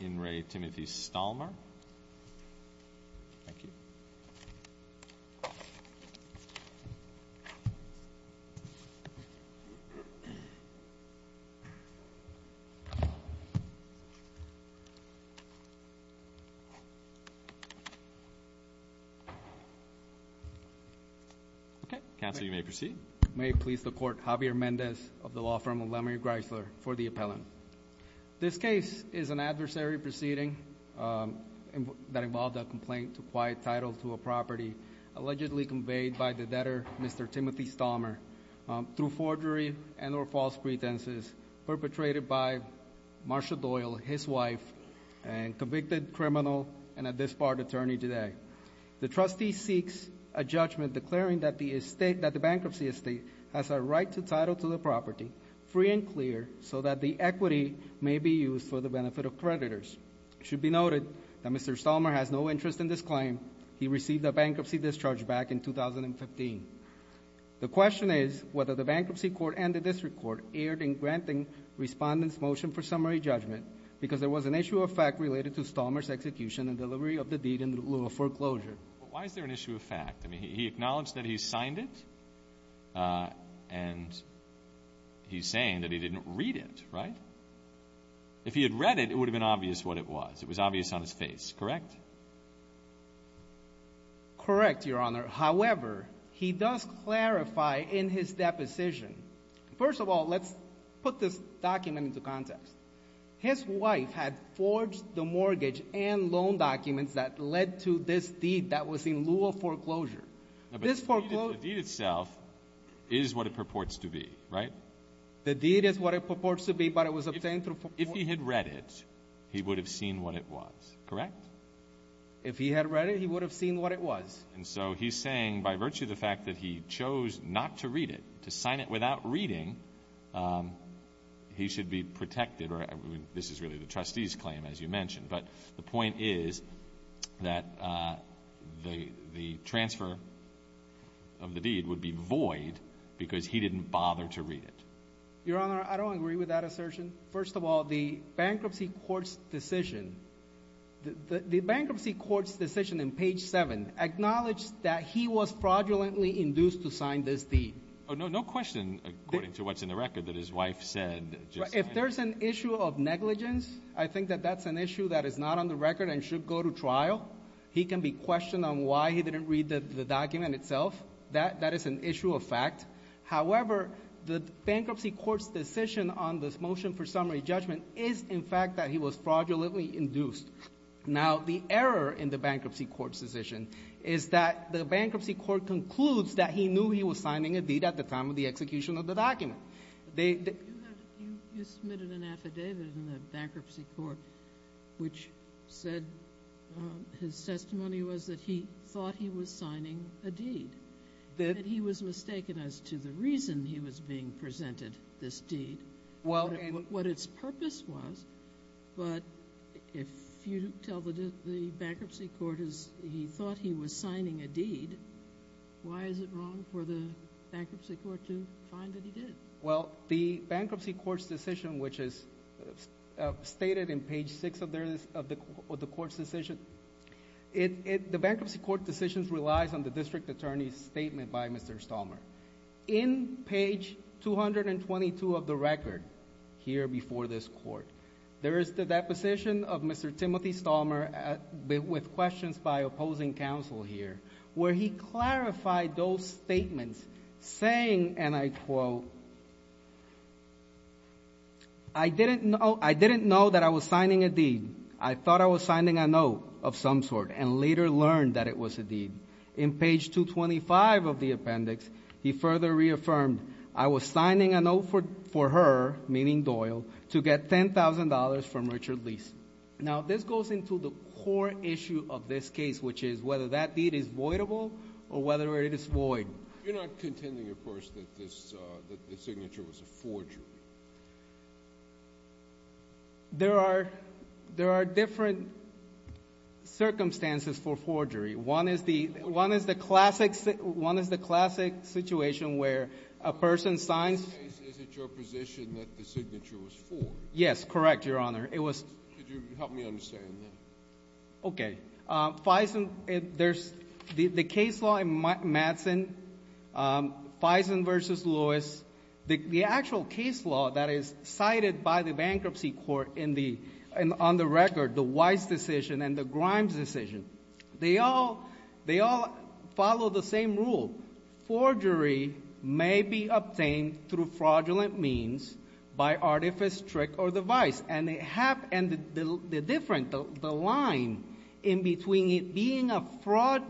Okay, Counsel, you may proceed. May it please the Court, Javier Mendez of the law firm of Lemery Grisler for the appellant. This case is an adversary proceeding that involved a complaint to quiet title to a property, allegedly conveyed by the debtor, Mr. Timothy Stallmer, through forgery and or false pretenses. Perpetrated by Marshall Doyle, his wife, and convicted criminal, and a disbarred attorney today. The trustee seeks a judgment declaring that the bankruptcy estate has a right to title to the property, free and clear, so that the equity may be used for the benefit of creditors. It should be noted that Mr. Stallmer has no interest in this claim. He received a bankruptcy discharge back in 2015. The question is whether the bankruptcy court and the district court erred in granting respondent's motion for summary judgment because there was an issue of fact related to Stallmer's execution and delivery of the deed in lieu of foreclosure. Why is there an issue of fact? I mean, he acknowledged that he signed it, and he's saying that he didn't read it, right? If he had read it, it would have been obvious what it was. It was obvious on his face, correct? Correct, Your Honor. However, he does clarify in his deposition. First of all, let's put this document into context. His wife had forged the mortgage and loan documents that led to this deed that was in lieu of foreclosure. This foreclosure- The deed itself is what it purports to be, right? The deed is what it purports to be, but it was obtained through- If he had read it, he would have seen what it was, correct? If he had read it, he would have seen what it was. And so he's saying, by virtue of the fact that he chose not to read it, to sign it without reading, he should be protected, or this is really the trustee's claim, as you mentioned. But the point is that the transfer of the deed would be void because he didn't bother to read it. Your Honor, I don't agree with that assertion. First of all, the bankruptcy court's decision in page 7 acknowledged that he was fraudulently induced to sign this deed. No question, according to what's in the record, that his wife said- If there's an issue of negligence, I think that that's an issue that is not on the record and should go to trial. He can be questioned on why he didn't read the document itself. That is an issue of fact. However, the bankruptcy court's decision on this motion for summary judgment is, in fact, that he was fraudulently induced. Now, the error in the bankruptcy court's decision is that the bankruptcy court concludes that he knew he was signing a deed at the time of the execution of the document. You submitted an affidavit in the bankruptcy court which said his testimony was that he thought he was signing a deed, that he was mistaken as to the reason he was being presented this deed, what its purpose was. But if you tell the bankruptcy court he thought he was signing a deed, why is it wrong for the bankruptcy court to find that he did? Well, the bankruptcy court's decision, which is stated in page 6 of the court's decision, the bankruptcy court decision relies on the district attorney's statement by Mr. Stalmer. In page 222 of the record here before this court, there is the deposition of Mr. Timothy Stalmer with questions by opposing counsel here where he clarified those statements saying, and I quote, I didn't know that I was signing a deed. I thought I was signing a note of some sort and later learned that it was a deed. In page 225 of the appendix, he further reaffirmed, I was signing a note for her, meaning Doyle, to get $10,000 from Richard Leese. Now, this goes into the core issue of this case, which is whether that deed is voidable or whether it is void. You're not contending, of course, that this signature was a forgery. There are different circumstances for forgery. One is the classic situation where a person signs. In this case, is it your position that the signature was for? Yes, correct, Your Honor. Could you help me understand that? Okay. The case law in Madsen, Faison v. Lewis, the actual case law that is cited by the bankruptcy court on the record, the Weiss decision and the Grimes decision, they all follow the same rule. Forgery may be obtained through fraudulent means by artifice, trick, or device. And the difference, the line in between it being a fraud,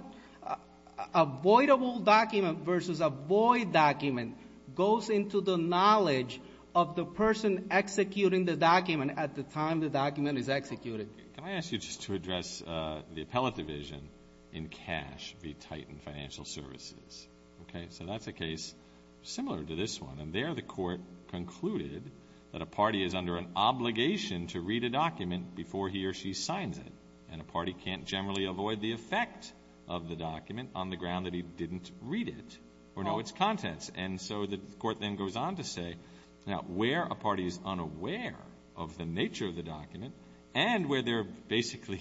a voidable document versus a void document, goes into the knowledge of the person executing the document at the time the document is executed. Can I ask you just to address the appellate division in Cash v. Titan Financial Services? Okay. So that's a case similar to this one. And there the court concluded that a party is under an obligation to read a document before he or she signs it. And a party can't generally avoid the effect of the document on the ground that he didn't read it or know its contents. And so the court then goes on to say, now, where a party is unaware of the nature of the document and where they're basically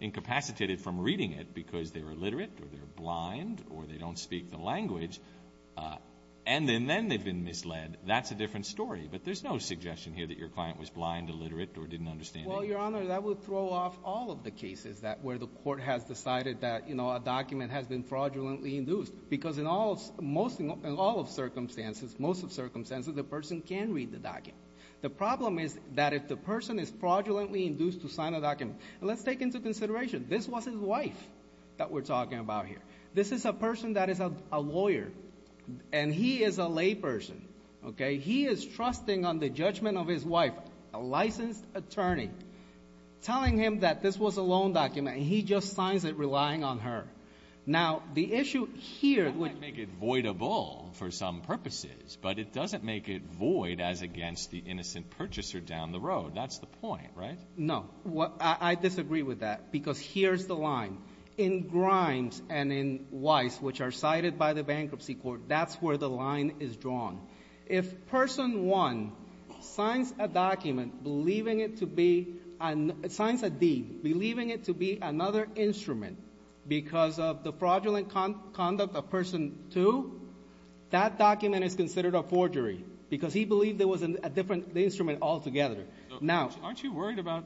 incapacitated from reading it because they're illiterate or they're blind or they don't speak the language, and then they've been misled, that's a different story. But there's no suggestion here that your client was blind, illiterate, or didn't understand English. Well, Your Honor, that would throw off all of the cases that where the court has decided that, you know, a document has been fraudulently induced. Because in all of circumstances, most of circumstances, the person can read the document. The problem is that if the person is fraudulently induced to sign a document. And let's take into consideration, this was his wife that we're talking about here. This is a person that is a lawyer. And he is a layperson, okay? He is trusting on the judgment of his wife, a licensed attorney, telling him that this was a loan document. And he just signs it relying on her. Now, the issue here would make it voidable for some purposes. But it doesn't make it void as against the innocent purchaser down the road. That's the point, right? No, I disagree with that. Because here's the line. In Grimes and in Weiss, which are cited by the bankruptcy court, that's where the line is drawn. If person one signs a document believing it to be, signs a D, believing it to be another instrument because of the fraudulent conduct of person two, that document is considered a forgery because he believed it was a different instrument altogether. Aren't you worried about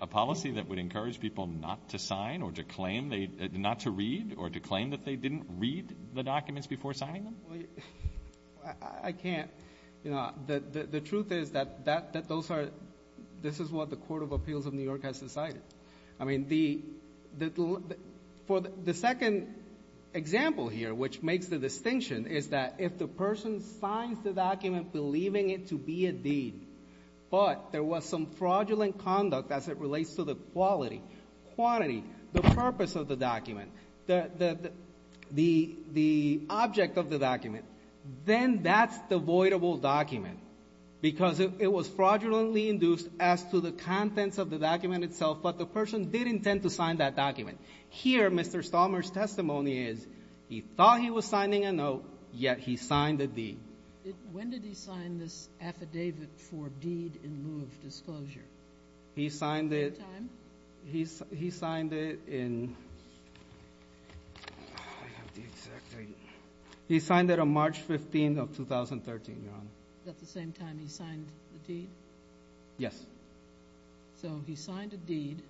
a policy that would encourage people not to sign or to claim, not to read or to claim that they didn't read the documents before signing them? I can't. The truth is that this is what the Court of Appeals of New York has decided. I mean, for the second example here, which makes the distinction, is that if the person signs the document believing it to be a D, but there was some fraudulent conduct as it relates to the quality, quantity, the purpose of the document, the object of the document, then that's the voidable document because it was fraudulently induced as to the contents of the document itself, but the person did intend to sign that document. Here, Mr. Stalmer's testimony is he thought he was signing a note, yet he signed a D. When did he sign this affidavit for deed in lieu of disclosure? He signed it. At what time? He signed it in, I have the exact date, he signed it on March 15th of 2013, Your Honor. At the same time he signed the deed? Yes. So he signed a deed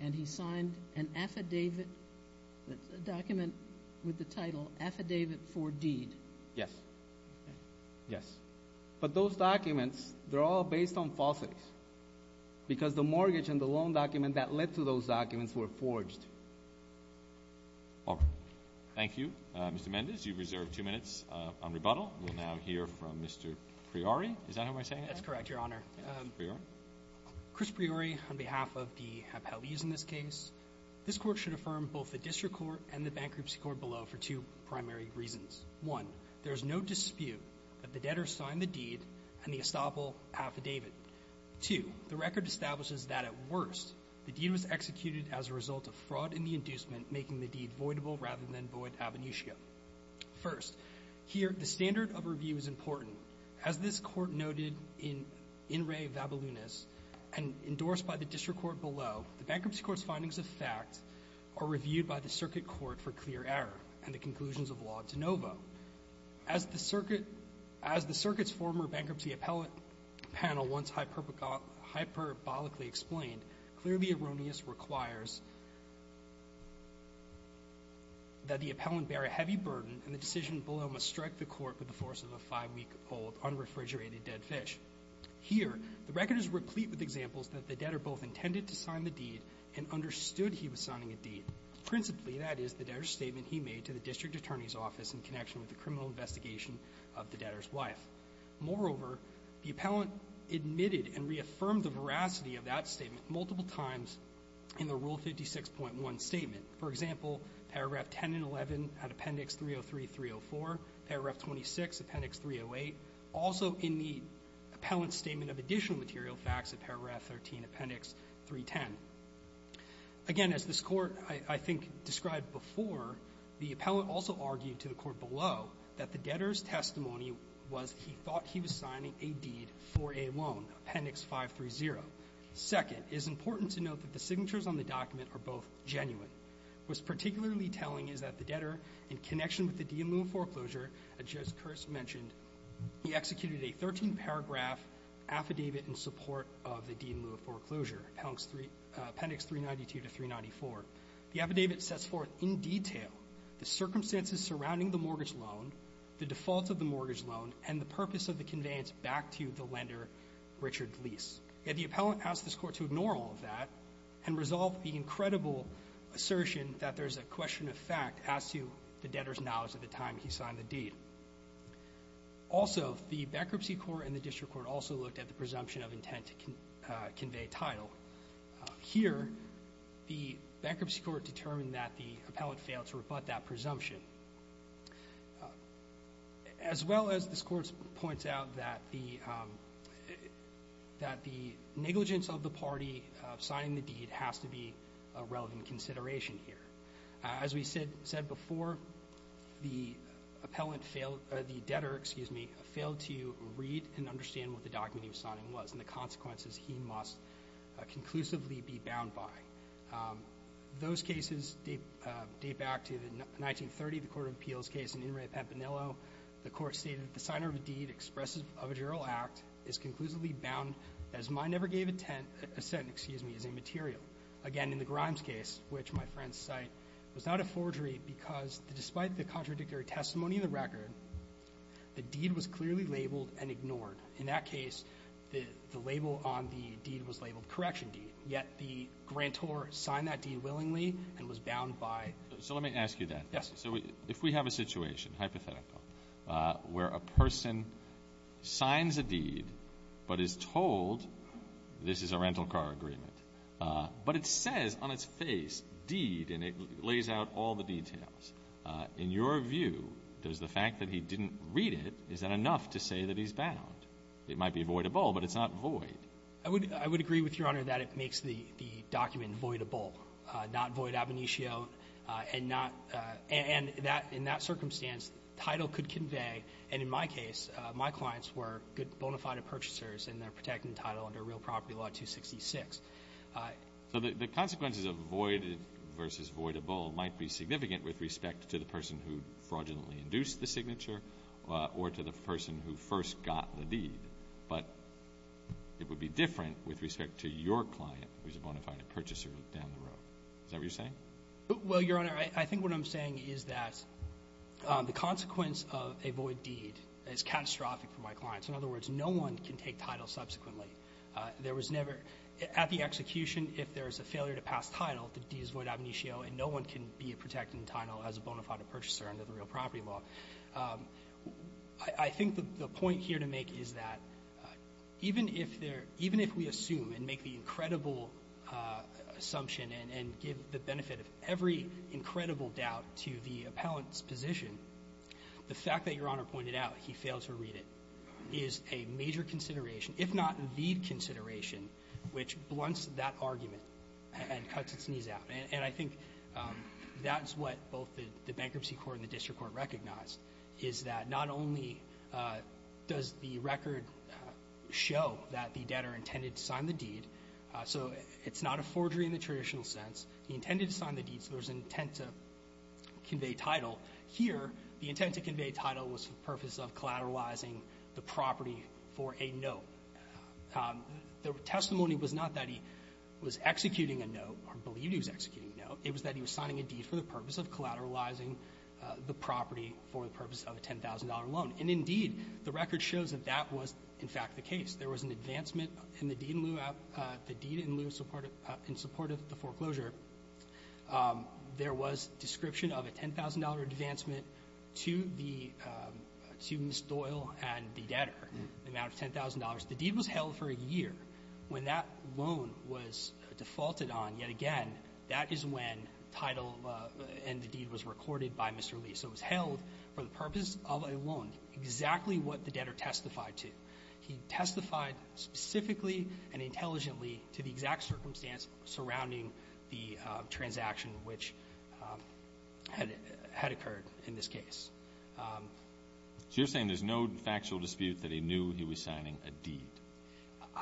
and he signed an affidavit, a document with the title affidavit for deed? Yes. Yes. But those documents, they're all based on falsities, because the mortgage and the loan document that led to those documents were forged. All right. Thank you, Mr. Mendez. You've reserved two minutes on rebuttal. We'll now hear from Mr. Priori. Is that how I'm saying it? That's correct, Your Honor. Mr. Priori? Chris Priori, on behalf of the appellees in this case, this court should affirm both the district court and the bankruptcy court below for two primary reasons. One, there is no dispute that the debtor signed the deed and the estoppel affidavit. Two, the record establishes that at worst, the deed was executed as a result of fraud in the inducement, making the deed voidable rather than void ab initio. First, here, the standard of review is important. As this court noted in in re vabolunis and endorsed by the district court below, the bankruptcy court's findings of fact are reviewed by the circuit court for clear error and the conclusions of law de novo. As the circuit's former bankruptcy appellate panel once hyperbolically explained, clearly erroneous requires that the appellant bear a heavy burden and the decision below must strike the court with the force of a five-week-old unrefrigerated dead fish. Here, the record is replete with examples that the debtor both intended to sign the deed and understood he was signing a deed. Principally, that is the debtor's statement he made to the district attorney's office in connection with the criminal investigation of the debtor's wife. Moreover, the appellant admitted and reaffirmed the veracity of that statement multiple times in the Rule 56.1 statement. For example, Paragraph 10 and 11 at Appendix 303, 304, Paragraph 26, Appendix 308. Also in the appellant's statement of additional material facts at Paragraph 13, Appendix 310. Again, as this Court, I think, described before, the appellant also argued to the court below that the debtor's testimony was he thought he was signing a deed for a loan, Appendix 530. Second, it is important to note that the signatures on the document are both genuine. What's particularly telling is that the debtor, in connection with the deed in lieu of foreclosure, as Judge Kerse mentioned, he executed a 13-paragraph affidavit in support of the deed in lieu of foreclosure, Appendix 392 to 394. The affidavit sets forth in detail the circumstances surrounding the mortgage loan, the default of the mortgage loan, and the purpose of the conveyance back to the lender, Richard Lease. Yet the appellant asked this Court to ignore all of that and resolve the incredible assertion that there's a question of fact as to the debtor's knowledge at the time he signed the deed. Also, the bankruptcy court and the district court also looked at the presumption of intent to convey title. Here, the bankruptcy court determined that the appellant failed to rebut that presumption. As well as this Court points out that the negligence of the party signing the deed has to be a relevant consideration here. As we said before, the debtor failed to read and understand what the document he was signing was and the consequences he must conclusively be bound by. Those cases date back to 1930, the Court of Appeals case in In re Pepinillo. The Court stated that the signer of a deed expressive of a general act is conclusively bound as mine ever gave a tent, a sentence, excuse me, as a material. Again, in the Grimes case, which my friends cite, was not a forgery because despite the contradictory testimony in the record, the deed was clearly labeled and ignored. In that case, the label on the deed was labeled correction deed. Yet the grantor signed that deed willingly and was bound by. So let me ask you that. Yes. So if we have a situation, hypothetical, where a person signs a deed but is told this is a rental car agreement, but it says on its face deed and it lays out all the details, in your view, does the fact that he didn't read it, is that enough to say that he's bound? It might be voidable, but it's not void. I would agree with Your Honor that it makes the document voidable, not void ab initio and in that circumstance, title could convey, and in my case, my clients were bona fide purchasers and they're protecting title under Real Property Law 266. So the consequences of void versus voidable might be significant with respect to the person who fraudulently induced the signature or to the person who first got the deed, but it would be different with respect to your client who's a bona fide purchaser down the road. Is that what you're saying? Well, Your Honor, I think what I'm saying is that the consequence of a void deed is catastrophic for my clients. In other words, no one can take title subsequently. There was never, at the execution, if there's a failure to pass title, the deed is void ab initio and no one can be protecting title as a bona fide purchaser under the Real Property Law. I think the point here to make is that even if we assume and make the incredible assumption and give the benefit of every incredible doubt to the appellant's position, the fact that Your Honor pointed out he failed to read it is a major consideration, if not the consideration, which blunts that argument and cuts its knees out. And I think that's what both the Bankruptcy Court and the District Court recognized is that not only does the record show that the debtor intended to sign the deed, so it's not a forgery in the traditional sense. He intended to sign the deed, so there's an intent to convey title. Here, the intent to convey title was for the purpose of collateralizing the property for a note. The testimony was not that he was executing a note or believed he was executing a note. It was that he was signing a deed for the purpose of collateralizing the property for the purpose of a $10,000 loan. And indeed, the record shows that that was, in fact, the case. There was an advancement in the deed in lieu of support of the foreclosure. There was description of a $10,000 advancement to the Ms. Doyle and the debtor, the amount of $10,000. The deed was held for a year. When that loan was defaulted on, yet again, that is when title and the deed was recorded by Mr. Lee. So it was held for the purpose of a loan, exactly what the debtor testified to. He testified specifically and intelligently to the exact circumstance surrounding the transaction which had occurred in this case. So you're saying there's no factual dispute that he knew he was signing a deed?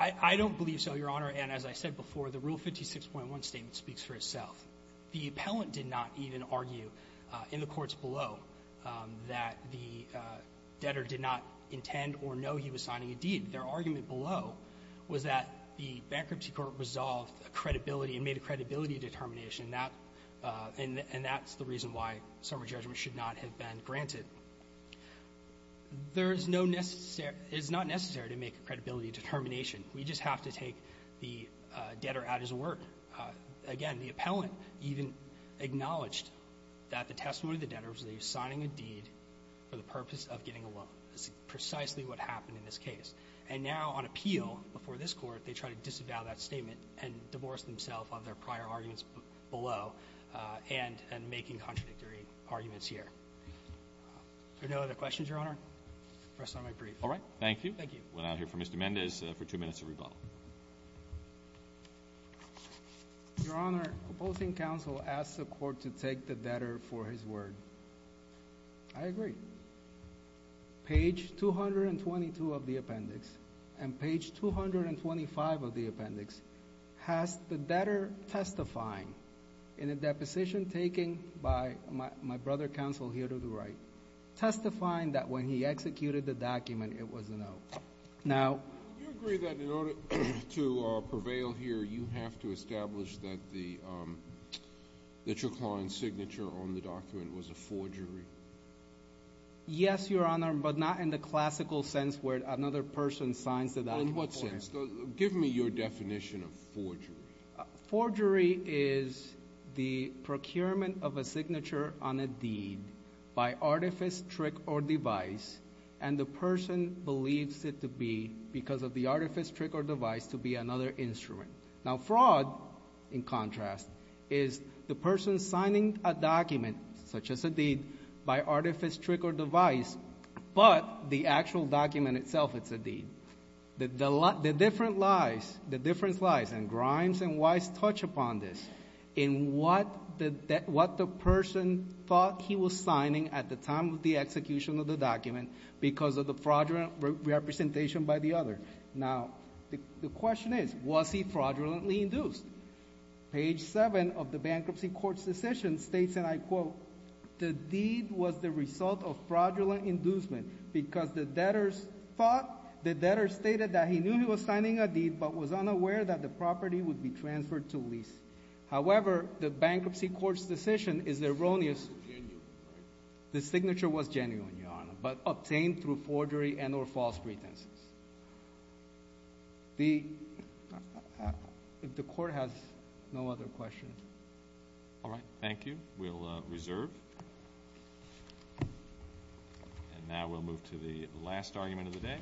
I don't believe so, Your Honor. And as I said before, the Rule 56.1 statement speaks for itself. The appellant did not even argue in the courts below that the debtor did not intend or know he was signing a deed. Their argument below was that the Bankruptcy Court resolved a credibility and made a credibility determination, and that's the reason why summary judgment should not have been granted. There is no necessary to make a credibility determination. We just have to take the debtor at his word. Again, the appellant even acknowledged that the testimony of the debtor was that he was signing a deed for the purpose of getting a loan. That's precisely what happened in this case. And now on appeal before this Court, they try to disavow that statement and divorce themselves of their prior arguments below and making contradictory arguments here. Are there no other questions, Your Honor? I rest on my brief. All right. Thank you. Thank you. We'll now hear from Mr. Mendez for two minutes of rebuttal. Your Honor, opposing counsel asked the Court to take the debtor for his word. I agree. Page 222 of the appendix and page 225 of the appendix has the debtor testifying in a deposition taken by my brother counsel here to the right, testifying that when he executed the document, it was a no. Now— Do you agree that in order to prevail here, you have to establish that the—that your client's signature on the document was a forgery? Yes, Your Honor, but not in the classical sense where another person signs the document. In what sense? Give me your definition of forgery. Forgery is the procurement of a signature on a deed by artifice, trick, or device, and the person believes it to be, because of the artifice, trick, or device, to be another instrument. Now, fraud, in contrast, is the person signing a document, such as a deed, by artifice, trick, or device, but the actual document itself, it's a deed. The different lies, the difference lies, and grimes and lies touch upon this, in what the person thought he was signing at the time of the execution of the document because of the fraudulent representation by the other. Now, the question is, was he fraudulently induced? Page 7 of the Bankruptcy Court's decision states, and I quote, the deed was the result of fraudulent inducement because the debtors thought—the debtors stated that he knew he was signing a deed but was unaware that the property would be transferred to lease. However, the Bankruptcy Court's decision is erroneous. Genuine, right? The signature was genuine, Your Honor, but obtained through forgery and or false pretenses. The—if the Court has no other questions. All right. Thank you. We'll reserve. And now we'll move to the last argument of the day.